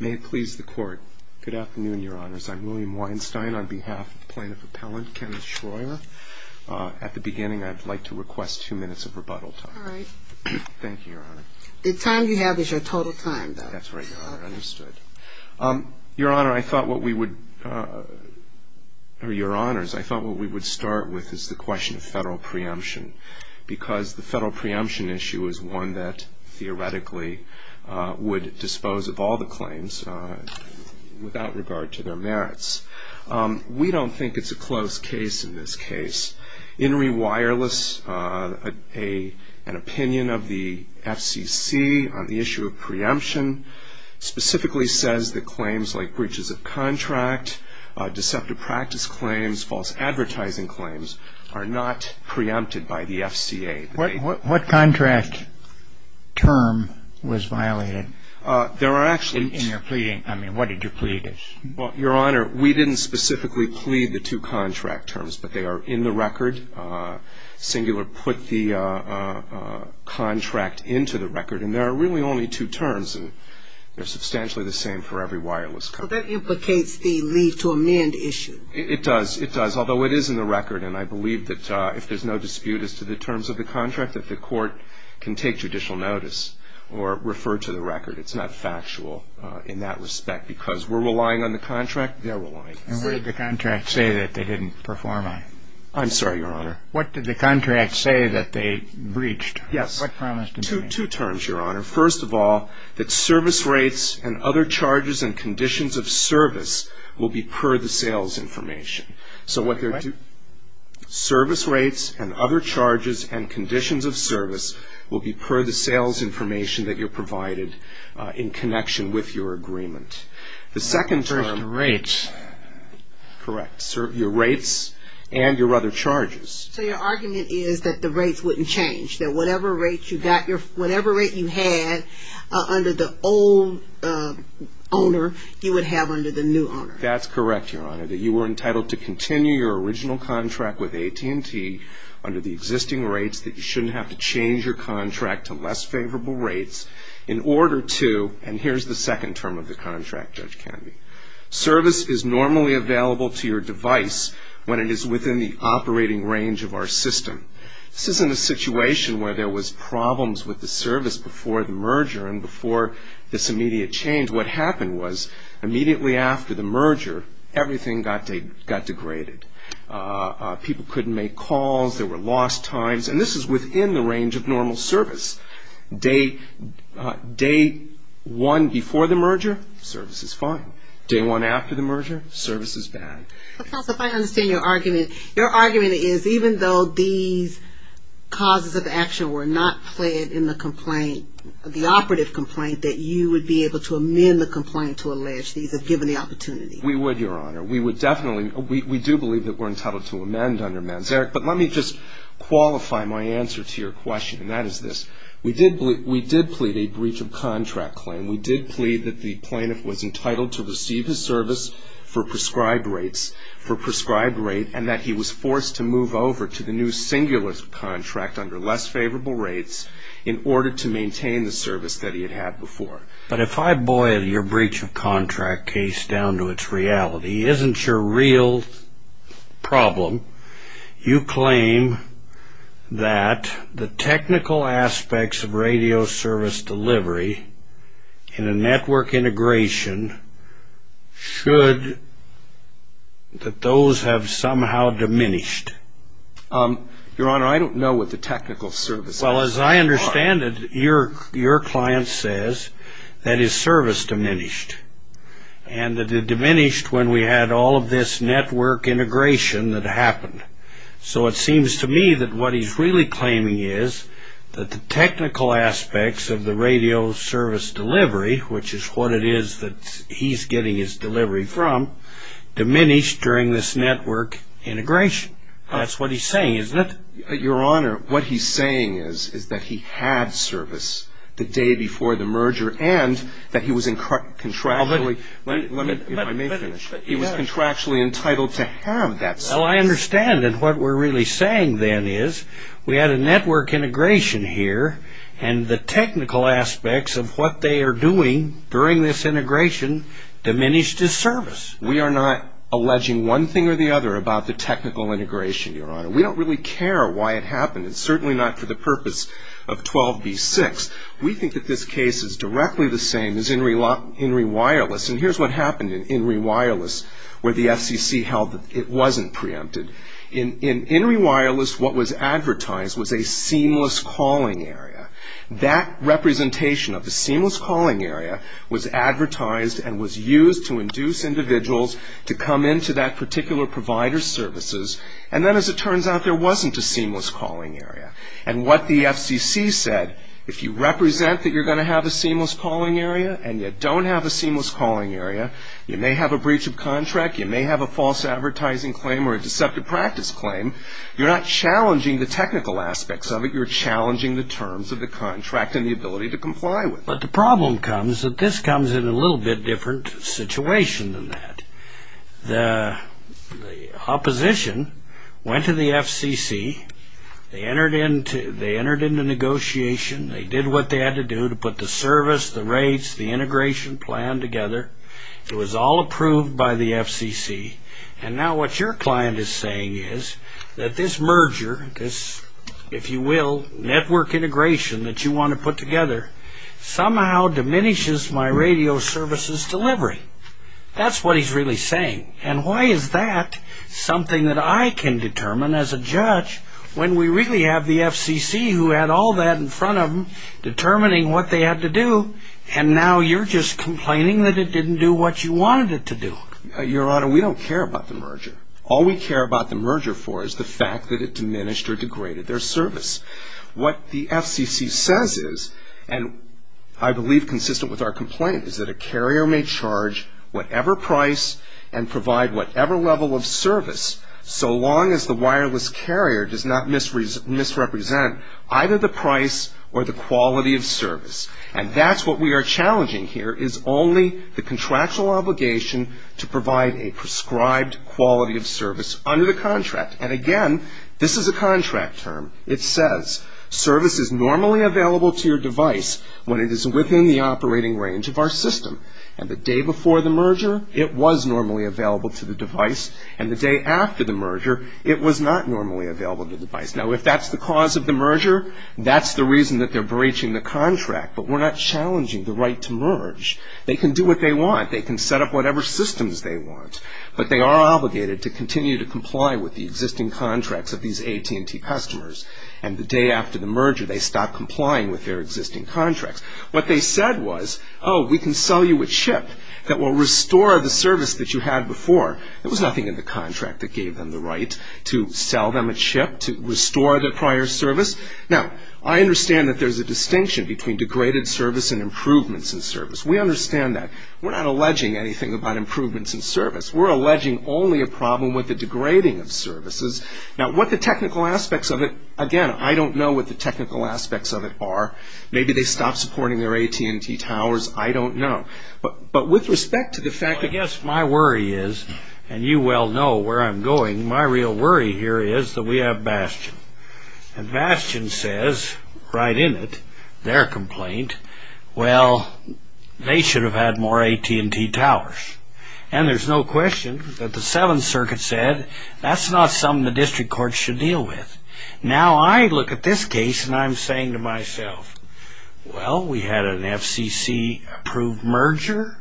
May it please the Court. Good afternoon, Your Honors. I'm William Weinstein on behalf of Plaintiff Appellant Kenneth Shroyer. At the beginning, I'd like to request two minutes of rebuttal time. All right. Thank you, Your Honor. The time you have is your total time, though. That's right, Your Honor. Understood. Your Honor, I thought what we would – or, Your Honors, I thought what we would start with is the question of federal preemption, because the federal preemption issue is one that theoretically would dispose of all the claims without regard to their merits. We don't think it's a close case in this case. In reWireless, an opinion of the FCC on the issue of preemption specifically says that claims like breaches of contract, deceptive practice claims, false advertising claims are not preempted by the FCA. What contract term was violated in your pleading? I mean, what did you plead as? Well, Your Honor, we didn't specifically plead the two contract terms, but they are in the record. Cingular put the contract into the record, and there are really only two terms, and they're substantially the same for every reWireless company. Well, that implicates the leave to amend issue. It does. It does, although it is in the record, and I believe that if there's no dispute as to the terms of the contract, that the court can take judicial notice or refer to the record. It's not factual in that respect, because we're relying on the contract. They're relying. And what did the contract say that they didn't perform on? I'm sorry, Your Honor. What did the contract say that they breached? Yes. What promise did they make? Well, they made two terms, Your Honor. First of all, that service rates and other charges and conditions of service will be per the sales information. So what they're doing – What? Service rates and other charges and conditions of service will be per the sales information that you're provided in connection with your agreement. The second term – What about the rates? Correct. Your rates and your other charges. So your argument is that the rates wouldn't change, that whatever rate you had under the old owner you would have under the new owner. That's correct, Your Honor, that you were entitled to continue your original contract with AT&T under the existing rates, that you shouldn't have to change your contract to less favorable rates in order to – and here's the second term of the contract, Judge Canvey. Service is normally available to your device when it is within the operating range of our system. This isn't a situation where there was problems with the service before the merger and before this immediate change. What happened was immediately after the merger, everything got degraded. People couldn't make calls. There were lost times, and this is within the range of normal service. Day one before the merger, service is fine. Day one after the merger, service is bad. But, counsel, if I understand your argument, your argument is even though these causes of action were not pled in the complaint, the operative complaint, that you would be able to amend the complaint to allege these have given the opportunity. We would, Your Honor. We would definitely – we do believe that we're entitled to amend under MANSERIC. But let me just qualify my answer to your question, and that is this. We did plead a breach of contract claim. We did plead that the plaintiff was entitled to receive his service for prescribed rates, for prescribed rate, and that he was forced to move over to the new singular contract under less favorable rates in order to maintain the service that he had had before. But if I boil your breach of contract case down to its reality, isn't your real problem, you claim that the technical aspects of radio service delivery in a network integration should – that those have somehow diminished. Your Honor, I don't know what the technical services are. Well, as I understand it, your client says that his service diminished, and that it diminished when we had all of this network integration that happened. So it seems to me that what he's really claiming is that the technical aspects of the radio service delivery, which is what it is that he's getting his delivery from, diminished during this network integration. That's what he's saying, isn't it? Your Honor, what he's saying is that he had service the day before the merger and that he was contractually – let me finish. He was contractually entitled to have that service. Well, I understand, and what we're really saying then is we had a network integration here, and the technical aspects of what they are doing during this integration diminished his service. We are not alleging one thing or the other about the technical integration, Your Honor. We don't really care why it happened. It's certainly not for the purpose of 12b-6. We think that this case is directly the same as INRI Wireless, and here's what happened in INRI Wireless where the FCC held that it wasn't preempted. In INRI Wireless, what was advertised was a seamless calling area. That representation of the seamless calling area was advertised and was used to induce individuals to come into that particular provider's services, and then as it turns out, there wasn't a seamless calling area. And what the FCC said, if you represent that you're going to have a seamless calling area and you don't have a seamless calling area, you may have a breach of contract, you may have a false advertising claim or a deceptive practice claim. You're not challenging the technical aspects of it. You're challenging the terms of the contract and the ability to comply with it. But the problem comes that this comes in a little bit different situation than that. The opposition went to the FCC. They entered into negotiation. They did what they had to do to put the service, the rates, the integration plan together. It was all approved by the FCC. And now what your client is saying is that this merger, this, if you will, network integration that you want to put together somehow diminishes my radio services delivery. That's what he's really saying. And why is that something that I can determine as a judge when we really have the FCC who had all that in front of them determining what they had to do, and now you're just complaining that it didn't do what you wanted it to do? Your Honor, we don't care about the merger. All we care about the merger for is the fact that it diminished or degraded their service. What the FCC says is, and I believe consistent with our complaint, is that a carrier may charge whatever price and provide whatever level of service so long as the wireless carrier does not misrepresent either the price or the quality of service. And that's what we are challenging here is only the contractual obligation to provide a prescribed quality of service under the contract. And again, this is a contract term. It says service is normally available to your device when it is within the operating range of our system. And the day before the merger, it was normally available to the device. And the day after the merger, it was not normally available to the device. Now, if that's the cause of the merger, that's the reason that they're breaching the contract. But we're not challenging the right to merge. They can do what they want. They can set up whatever systems they want. But they are obligated to continue to comply with the existing contracts of these AT&T customers. And the day after the merger, they stop complying with their existing contracts. What they said was, oh, we can sell you a chip that will restore the service that you had before. There was nothing in the contract that gave them the right to sell them a chip to restore their prior service. Now, I understand that there's a distinction between degraded service and improvements in service. We understand that. We're not alleging anything about improvements in service. We're alleging only a problem with the degrading of services. Now, what the technical aspects of it, again, I don't know what the technical aspects of it are. Maybe they stopped supporting their AT&T towers. I don't know. But with respect to the fact that you well know where I'm going, my real worry here is that we have Bastion. And Bastion says right in it, their complaint, well, they should have had more AT&T towers. And there's no question that the Seventh Circuit said that's not something the district court should deal with. Now, I look at this case, and I'm saying to myself, well, we had an FCC-approved merger.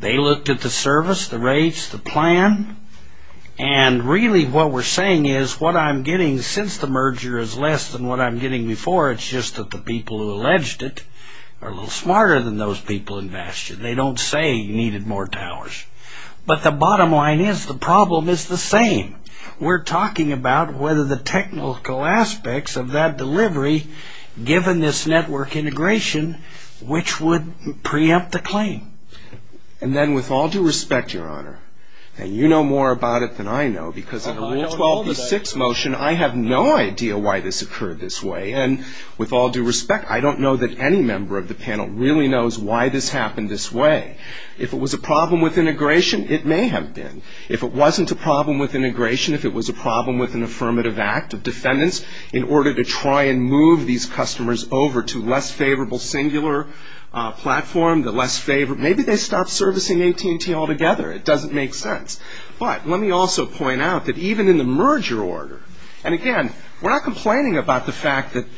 They looked at the service, the rates, the plan. And really what we're saying is what I'm getting since the merger is less than what I'm getting before. It's just that the people who alleged it are a little smarter than those people in Bastion. They don't say you needed more towers. But the bottom line is the problem is the same. We're talking about whether the technical aspects of that delivery, given this network integration, which would preempt the claim. And then with all due respect, Your Honor, and you know more about it than I know, because in the Rule 12b-6 motion I have no idea why this occurred this way. And with all due respect, I don't know that any member of the panel really knows why this happened this way. If it was a problem with integration, it may have been. If it wasn't a problem with integration, if it was a problem with an affirmative act of defendants, in order to try and move these customers over to less favorable singular platform, the less favorable, maybe they stopped servicing AT&T altogether. It doesn't make sense. But let me also point out that even in the merger order, and again, we're not complaining about the fact that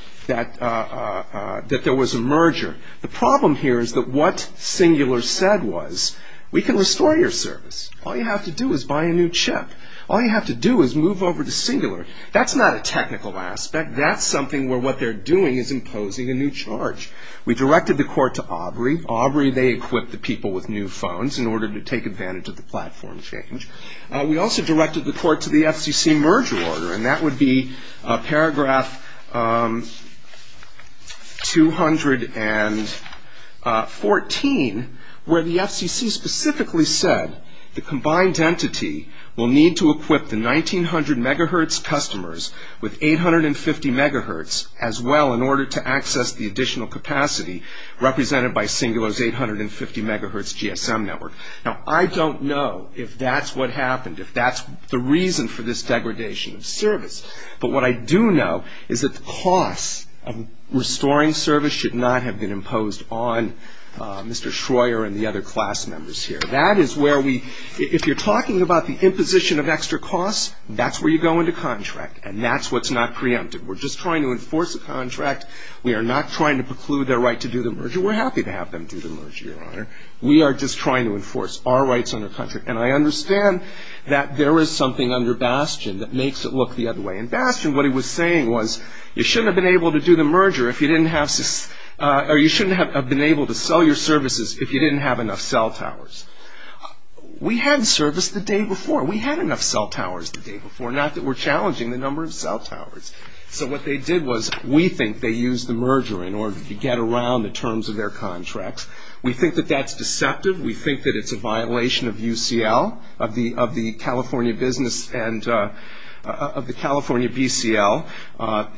there was a merger. The problem here is that what singular said was we can restore your service. All you have to do is buy a new chip. All you have to do is move over to singular. That's not a technical aspect. That's something where what they're doing is imposing a new charge. We directed the court to Aubrey. Aubrey, they equipped the people with new phones in order to take advantage of the platform change. We also directed the court to the FCC merger order, and that would be paragraph 214, where the FCC specifically said the combined entity will need to equip the 1,900 megahertz customers with 850 megahertz as well in order to access the additional capacity represented by singular's 850 megahertz GSM network. Now, I don't know if that's what happened, if that's the reason for this degradation of service. But what I do know is that the cost of restoring service should not have been imposed on Mr. Schroer and the other class members here. That is where we – if you're talking about the imposition of extra costs, that's where you go into contract, and that's what's not preempted. We're just trying to enforce a contract. We are not trying to preclude their right to do the merger. We're happy to have them do the merger, Your Honor. We are just trying to enforce our rights under contract. And I understand that there is something under Bastion that makes it look the other way. In Bastion, what he was saying was you shouldn't have been able to do the merger if you didn't have – or you shouldn't have been able to sell your services if you didn't have enough cell towers. We had service the day before. We had enough cell towers the day before, not that we're challenging the number of cell towers. So what they did was we think they used the merger in order to get around the terms of their contracts. We think that that's deceptive. We think that it's a violation of UCL, of the California business and of the California BCL.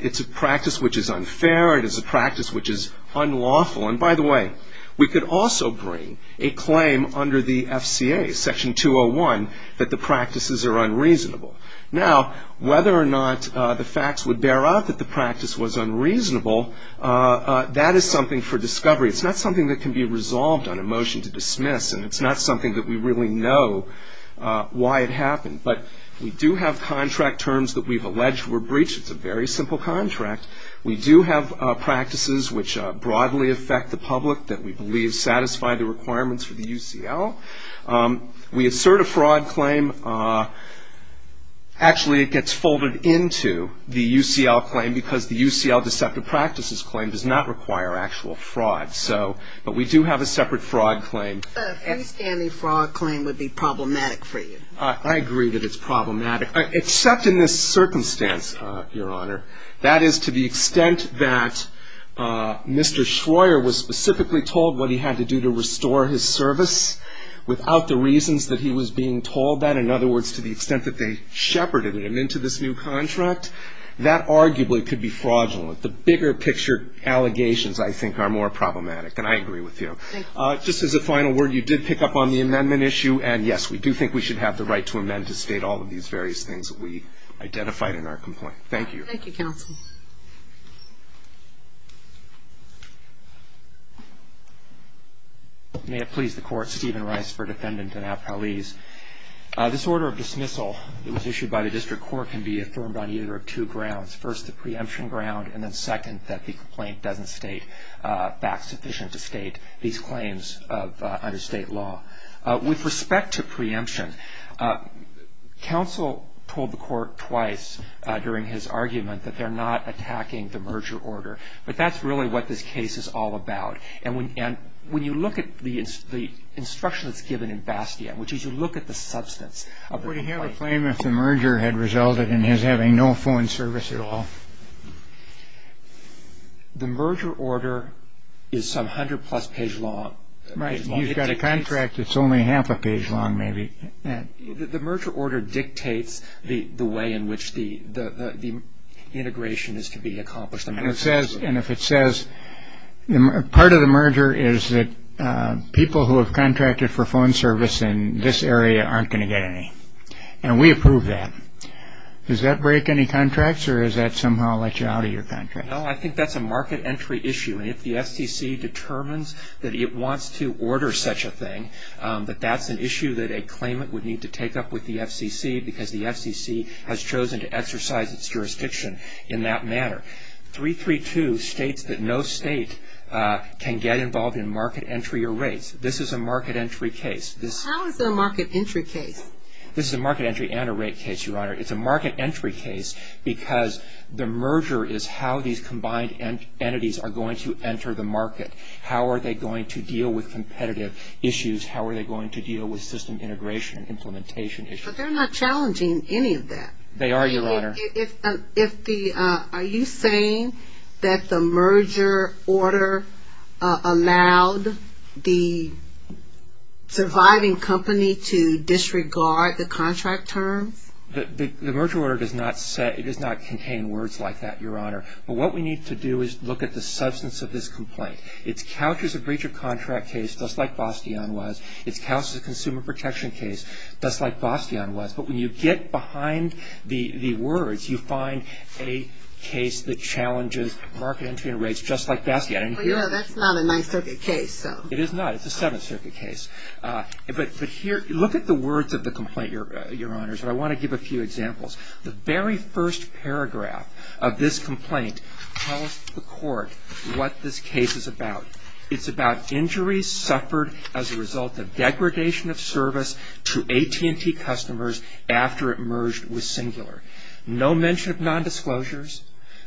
It's a practice which is unfair. It is a practice which is unlawful. And, by the way, we could also bring a claim under the FCA, Section 201, that the practices are unreasonable. Now, whether or not the facts would bear out that the practice was unreasonable, that is something for discovery. It's not something that can be resolved on a motion to dismiss, and it's not something that we really know why it happened. But we do have contract terms that we've alleged were breached. It's a very simple contract. We do have practices which broadly affect the public that we believe satisfy the requirements for the UCL. We assert a fraud claim. Actually, it gets folded into the UCL claim because the UCL deceptive practices claim does not require actual fraud. But we do have a separate fraud claim. A freestanding fraud claim would be problematic for you. I agree that it's problematic, except in this circumstance, Your Honor. That is, to the extent that Mr. Schroer was specifically told what he had to do to restore his service, without the reasons that he was being told that, in other words, to the extent that they shepherded him into this new contract, that arguably could be fraudulent. The bigger picture allegations, I think, are more problematic, and I agree with you. Just as a final word, you did pick up on the amendment issue, and, yes, we do think we should have the right to amend to state all of these various things that we identified in our complaint. Thank you. Thank you, counsel. Thank you. May it please the Court. Stephen Rice for Defendant and Appellees. This order of dismissal that was issued by the district court can be affirmed on either of two grounds, first the preemption ground and then, second, that the complaint doesn't state facts sufficient to state these claims under state law. With respect to preemption, counsel told the court twice during his argument that they're not attacking the merger order, but that's really what this case is all about. And when you look at the instruction that's given in Bastion, which is you look at the substance of the complaint. Would he have a claim if the merger had resulted in his having no phone service at all? The merger order is some hundred-plus page long. Right. You've got a contract that's only half a page long, maybe. The merger order dictates the way in which the integration is to be accomplished. And if it says, part of the merger is that people who have contracted for phone service in this area aren't going to get any. And we approve that. Does that break any contracts or does that somehow let you out of your contract? No, I think that's a market entry issue. And if the FCC determines that it wants to order such a thing, that that's an issue that a claimant would need to take up with the FCC because the FCC has chosen to exercise its jurisdiction in that manner. 332 states that no state can get involved in market entry or rates. This is a market entry case. How is it a market entry case? This is a market entry and a rate case, Your Honor. It's a market entry case because the merger is how these combined entities are going to enter the market. How are they going to deal with competitive issues? How are they going to deal with system integration and implementation issues? But they're not challenging any of that. They are, Your Honor. Are you saying that the merger order allowed the surviving company to disregard the contract terms? The merger order does not contain words like that, Your Honor. But what we need to do is look at the substance of this complaint. It's couched as a breach of contract case, just like Bastion was. It's couched as a consumer protection case, just like Bastion was. But when you get behind the words, you find a case that challenges market entry and rates just like Bastion. Well, yeah, that's not a Ninth Circuit case. It is not. It's a Seventh Circuit case. But here, look at the words of the complaint, Your Honor. I want to give a few examples. The very first paragraph of this complaint tells the court what this case is about. It's about injuries suffered as a result of degradation of service to AT&T customers after it merged with Singular. No mention of nondisclosures.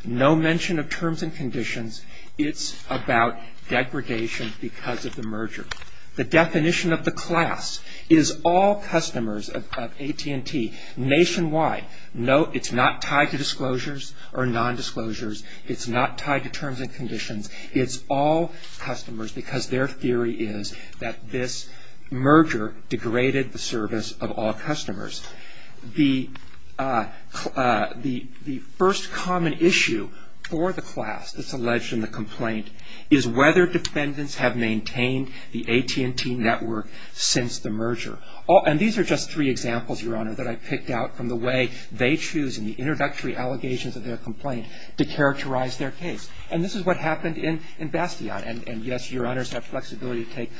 No mention of terms and conditions. It's about degradation because of the merger. The definition of the class is all customers of AT&T nationwide. Note it's not tied to disclosures or nondisclosures. It's not tied to terms and conditions. It's all customers because their theory is that this merger degraded the service of all customers. The first common issue for the class that's alleged in the complaint is whether defendants have maintained the AT&T network since the merger. And these are just three examples, Your Honor, that I picked out from the way they choose in the introductory allegations of their complaint to characterize their case. And this is what happened in Bastion. And, yes, Your Honors have flexibility to take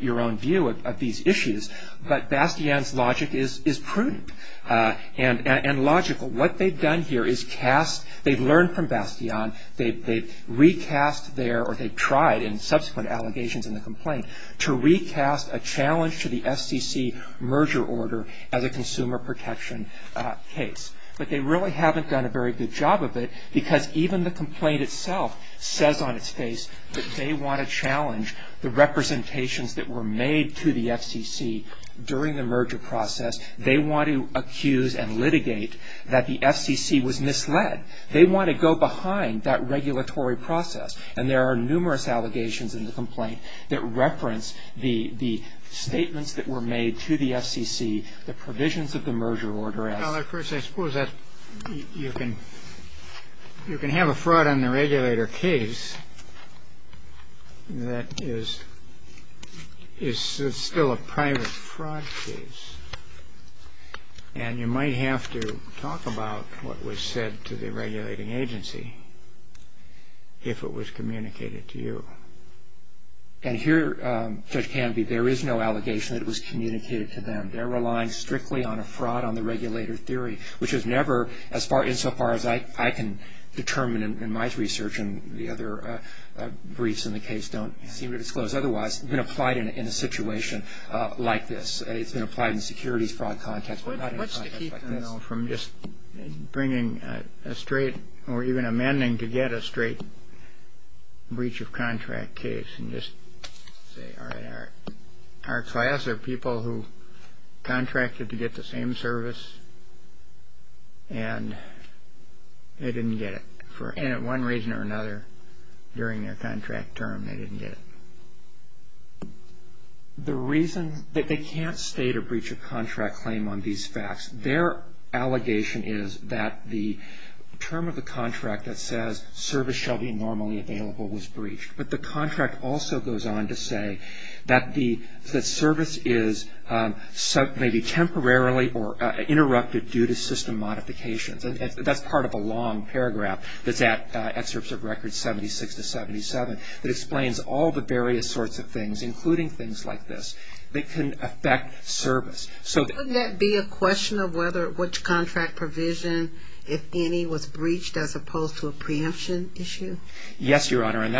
your own view of these issues. But Bastion's logic is prudent and logical. What they've done here is cast they've learned from Bastion. They've recast their or they've tried in subsequent allegations in the complaint to recast a challenge to the FCC merger order as a consumer protection case. But they really haven't done a very good job of it because even the complaint itself says on its face that they want to challenge the representations that were made to the FCC during the merger process. They want to accuse and litigate that the FCC was misled. They want to go behind that regulatory process. And there are numerous allegations in the complaint that reference the statements that were made to the FCC, the provisions of the merger order. Well, of course, I suppose that you can have a fraud on the regulator case that is still a private fraud case. And you might have to talk about what was said to the regulating agency if it was communicated to you. And here, Judge Canby, there is no allegation that it was communicated to them. They're relying strictly on a fraud on the regulator theory, which has never, insofar as I can determine in my research, and the other briefs in the case don't seem to disclose otherwise, been applied in a situation like this. It's been applied in a securities fraud context, but not in a context like this. What's to keep them from just bringing a straight or even amending to get a straight breach of contract case and just say, all right, our class are people who contracted to get the same service, and they didn't get it for one reason or another during their contract term. They didn't get it. The reason that they can't state a breach of contract claim on these facts, their allegation is that the term of the contract that says service shall be normally available was breached. But the contract also goes on to say that the service is maybe temporarily or interrupted due to system modifications. And that's part of a long paragraph that's at Excerpts of Records 76 to 77 that explains all the various sorts of things, including things like this, that can affect service. So that be a question of whether which contract provision, if any, was breached as opposed to a preemption issue? Yes, Your Honor. And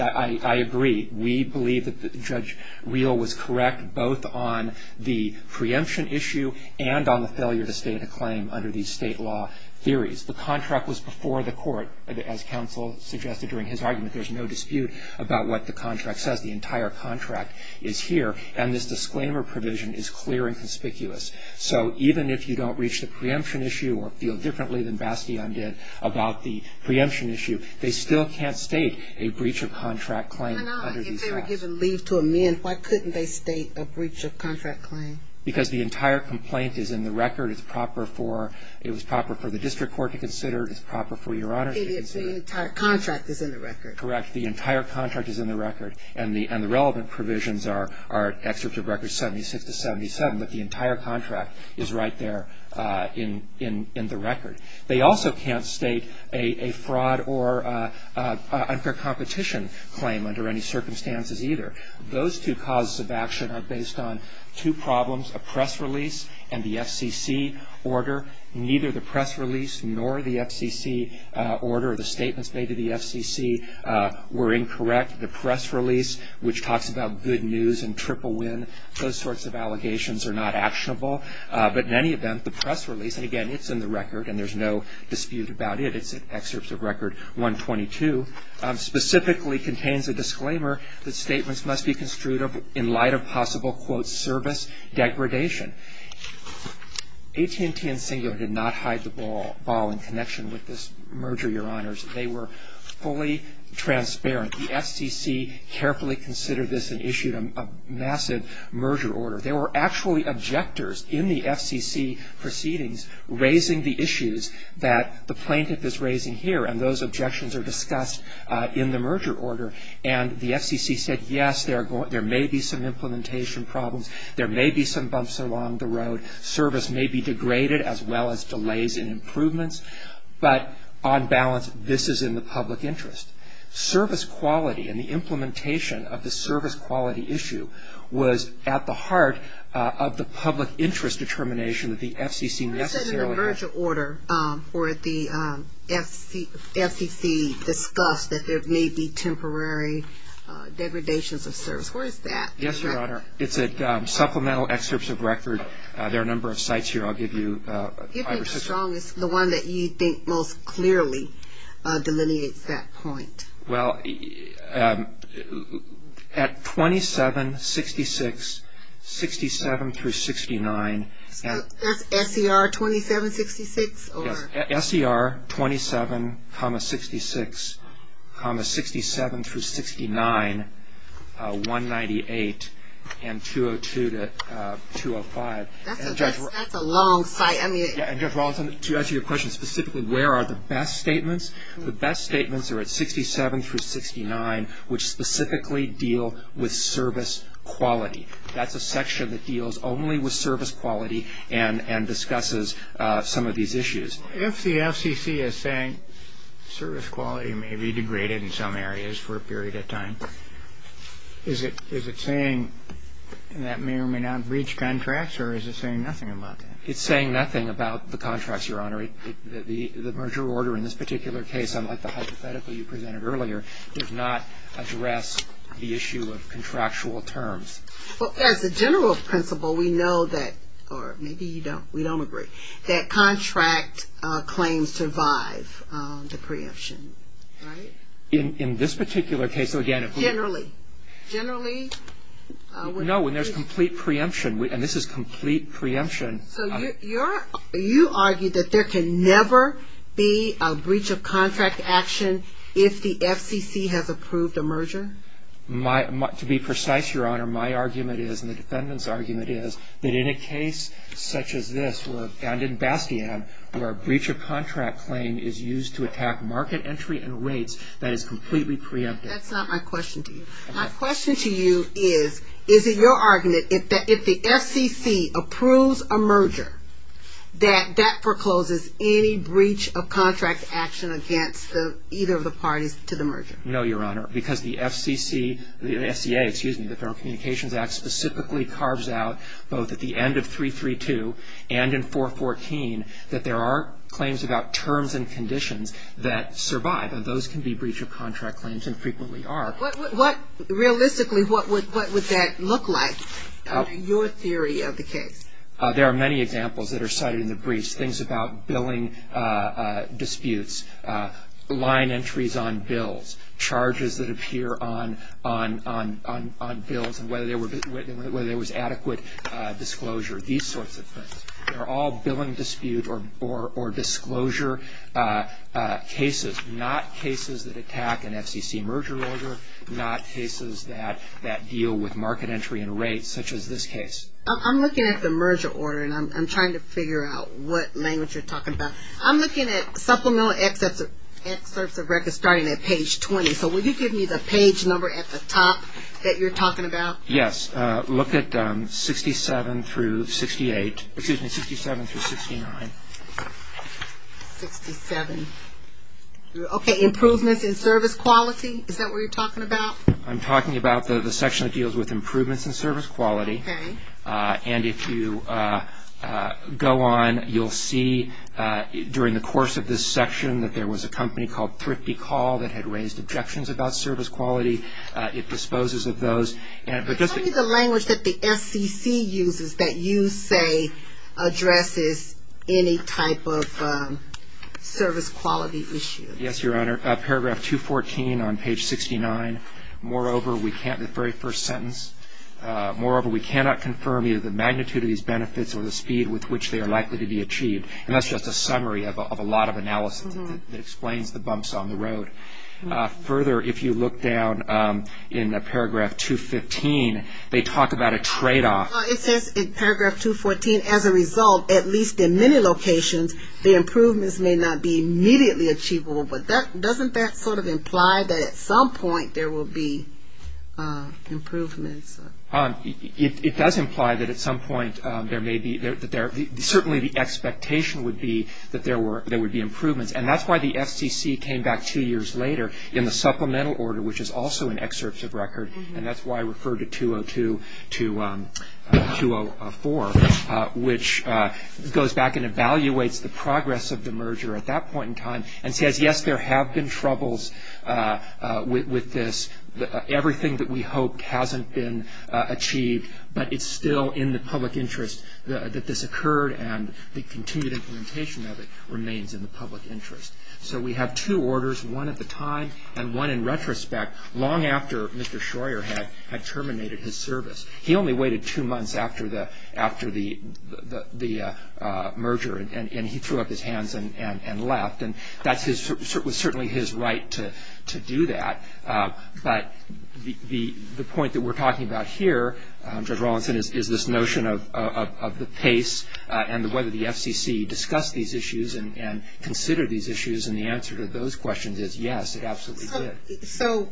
I agree. We believe that Judge Reel was correct both on the preemption issue and on the failure to state a claim under these state law theories. The contract was before the court, as counsel suggested during his argument. There's no dispute about what the contract says. The entire contract is here, and this disclaimer provision is clear and conspicuous. So even if you don't reach the preemption issue or feel differently than Bastion did about the preemption issue, they still can't state a breach of contract claim under these facts. If they were given leave to amend, why couldn't they state a breach of contract claim? Because the entire complaint is in the record. It was proper for the district court to consider. It was proper for Your Honor to consider. But the entire contract is in the record. Correct. The entire contract is in the record. And the relevant provisions are excerpts of records 76 to 77. But the entire contract is right there in the record. They also can't state a fraud or unfair competition claim under any circumstances either. Those two causes of action are based on two problems, a press release and the FCC order. Neither the press release nor the FCC order or the statements made to the FCC were incorrect. The press release, which talks about good news and triple win, those sorts of allegations are not actionable. But in any event, the press release, and, again, it's in the record and there's no dispute about it, it's in excerpts of record 122, specifically contains a disclaimer that statements must be construed in light of possible, quote, service degradation. AT&T and Singular did not hide the ball in connection with this merger, Your Honors. They were fully transparent. The FCC carefully considered this and issued a massive merger order. They were actually objectors in the FCC proceedings raising the issues that the plaintiff is raising here, and those objections are discussed in the merger order. And the FCC said, yes, there may be some implementation problems. There may be some bumps along the road. Service may be degraded as well as delays in improvements. But on balance, this is in the public interest. Service quality and the implementation of the service quality issue was at the heart of the public interest determination that the FCC necessarily had. I said in the merger order, or the FCC discussed that there may be temporary degradations of service. Where is that? Yes, Your Honor. It's at supplemental excerpts of record. There are a number of sites here. I'll give you five or six. Give me the strongest, the one that you think most clearly delineates that point. Well, at 2766, 67 through 69. That's SER 2766? Yes, SER 27, 66, 67 through 69, 198, and 202 to 205. That's a long site. To answer your question specifically, where are the best statements? The best statements are at 67 through 69, which specifically deal with service quality. That's a section that deals only with service quality and discusses some of these issues. If the FCC is saying service quality may be degraded in some areas for a period of time, is it saying that may or may not reach contracts, or is it saying nothing about that? It's saying nothing about the contracts, Your Honor. The merger order in this particular case, unlike the hypothetical you presented earlier, does not address the issue of contractual terms. Well, as a general principle, we know that, or maybe you don't, we don't agree, that contract claims survive the preemption, right? In this particular case, again. Generally. Generally. No, when there's complete preemption, and this is complete preemption. So you argue that there can never be a breach of contract action if the FCC has approved a merger? To be precise, Your Honor, my argument is, and the defendant's argument is, that in a case such as this, and in Bastian, where a breach of contract claim is used to attack market entry and rates, that is completely preemptive. That's not my question to you. My question to you is, is it your argument that if the FCC approves a merger, that that forecloses any breach of contract action against either of the parties to the merger? No, Your Honor, because the FCC, the FCA, excuse me, the Federal Communications Act, specifically carves out, both at the end of 332 and in 414, that there are claims about terms and conditions that survive, and those can be breach of contract claims, and frequently are. Realistically, what would that look like in your theory of the case? There are many examples that are cited in the breach. Things about billing disputes, line entries on bills, charges that appear on bills, and whether there was adequate disclosure, these sorts of things. They're all billing dispute or disclosure cases, not cases that attack an FCC merger order, not cases that deal with market entry and rates, such as this case. I'm looking at the merger order, and I'm trying to figure out what language you're talking about. I'm looking at supplemental excerpts of records starting at page 20, so will you give me the page number at the top that you're talking about? Yes, look at 67 through 68, excuse me, 67 through 69. 67. Okay, improvements in service quality, is that what you're talking about? I'm talking about the section that deals with improvements in service quality. Okay. And if you go on, you'll see, during the course of this section, that there was a company called Thrifty Call that had raised objections about service quality. It disposes of those. Tell me the language that the FCC uses that you say addresses any type of service quality issue. Yes, Your Honor. Paragraph 214 on page 69, the very first sentence, Moreover, we cannot confirm either the magnitude of these benefits or the speed with which they are likely to be achieved. And that's just a summary of a lot of analysis that explains the bumps on the road. Further, if you look down in paragraph 215, they talk about a tradeoff. It says in paragraph 214, as a result, at least in many locations, the improvements may not be immediately achievable. But doesn't that sort of imply that at some point there will be improvements? It does imply that at some point there may be, certainly the expectation would be that there would be improvements. And that's why the FCC came back two years later in the supplemental order, which is also in excerpts of record, and that's why I refer to 202 to 204, which goes back and evaluates the progress of the merger at that point in time and says, yes, there have been troubles with this. Everything that we hoped hasn't been achieved, but it's still in the public interest that this occurred and the continued implementation of it remains in the public interest. So we have two orders, one at the time and one in retrospect, long after Mr. Schroer had terminated his service. He only waited two months after the merger, and he threw up his hands and left. And that was certainly his right to do that. But the point that we're talking about here, Judge Rawlinson, is this notion of the pace and whether the FCC discussed these issues and considered these issues, and the answer to those questions is yes, it absolutely did. So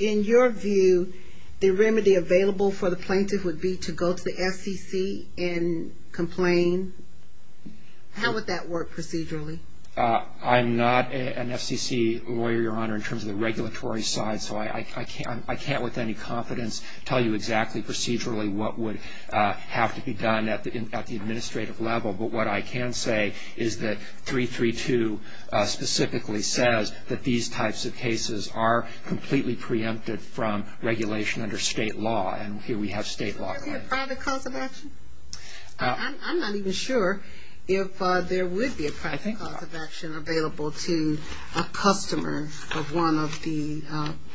in your view, the remedy available for the plaintiff would be to go to the FCC and complain? How would that work procedurally? I'm not an FCC lawyer, Your Honor, in terms of the regulatory side, so I can't with any confidence tell you exactly procedurally what would have to be done at the administrative level. But what I can say is that 332 specifically says that these types of cases are completely preempted from regulation under state law, and here we have state law. Would there be a private cause of action? I'm not even sure if there would be a private cause of action available to a customer of one of the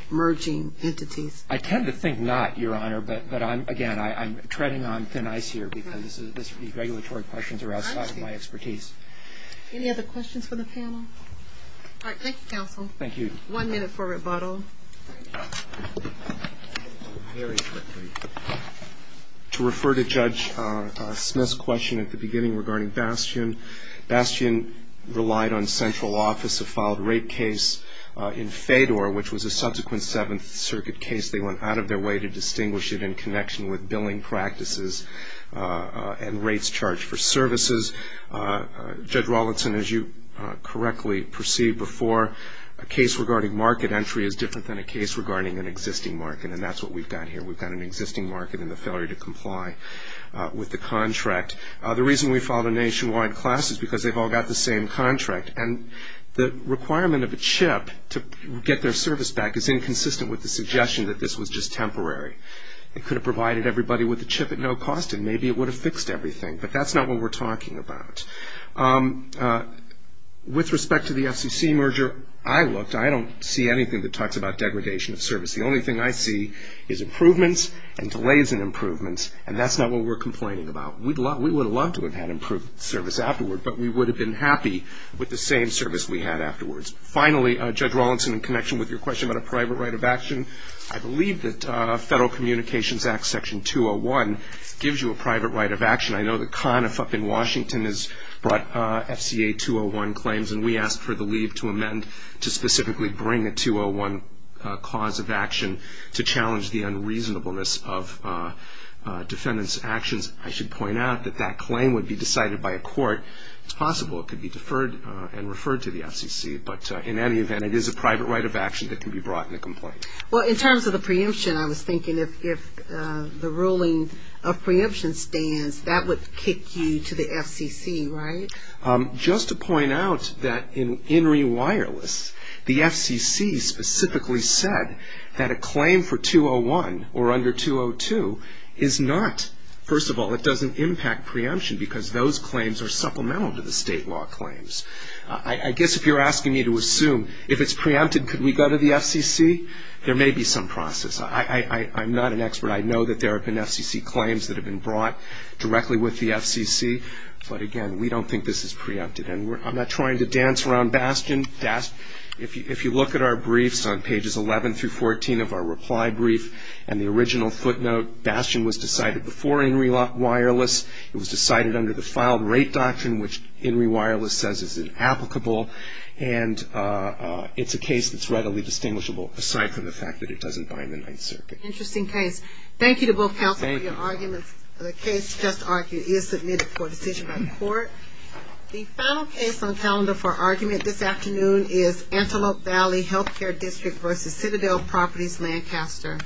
merging entities. I tend to think not, Your Honor, but, again, I'm treading on thin ice here because these regulatory questions are outside of my expertise. Any other questions for the panel? All right. Thank you, counsel. Thank you. One minute for rebuttal. Very quickly. To refer to Judge Smith's question at the beginning regarding Bastian, Bastian relied on central office, a filed rate case in Fedor, which was a subsequent Seventh Circuit case. They went out of their way to distinguish it in connection with billing practices and rates charged for services. Judge Rawlinson, as you correctly perceived before, a case regarding market entry is different than a case regarding an existing market, and that's what we've got here. We've got an existing market and the failure to comply with the contract. The reason we filed a nationwide class is because they've all got the same contract, and the requirement of a chip to get their service back is inconsistent with the suggestion that this was just temporary. It could have provided everybody with a chip at no cost, and maybe it would have fixed everything, but that's not what we're talking about. With respect to the FCC merger, I looked. I don't see anything that talks about degradation of service. The only thing I see is improvements and delays in improvements, and that's not what we're complaining about. We would have loved to have had improved service afterward, but we would have been happy with the same service we had afterwards. Finally, Judge Rawlinson, in connection with your question about a private right of action, I believe that Federal Communications Act Section 201 gives you a private right of action. I know that CONIF up in Washington has brought FCA 201 claims, and we asked for the leave to amend to specifically bring a 201 cause of action to challenge the unreasonableness of defendants' actions. I should point out that that claim would be decided by a court. It's possible it could be deferred and referred to the FCC, but in any event, it is a private right of action that can be brought in a complaint. Well, in terms of the preemption, I was thinking if the ruling of preemption stands, that would kick you to the FCC, right? Just to point out that in Enri Wireless, the FCC specifically said that a claim for 201 or under 202 is not, first of all, it doesn't impact preemption because those claims are supplemental to the state law claims. I guess if you're asking me to assume if it's preempted, could we go to the FCC? There may be some process. I'm not an expert. I know that there have been FCC claims that have been brought directly with the FCC, but again, we don't think this is preempted, and I'm not trying to dance around Bastion. If you look at our briefs on pages 11 through 14 of our reply brief and the original footnote, Bastion was decided before Enri Wireless. It was decided under the filed rate doctrine, which Enri Wireless says is inapplicable, and it's a case that's readily distinguishable aside from the fact that it doesn't buy in the Ninth Circuit. Interesting case. Thank you to both counsel for your arguments. The case just argued is submitted for decision by court. The final case on calendar for argument this afternoon is Antelope Valley Healthcare District v. Citadel Properties, Lancaster.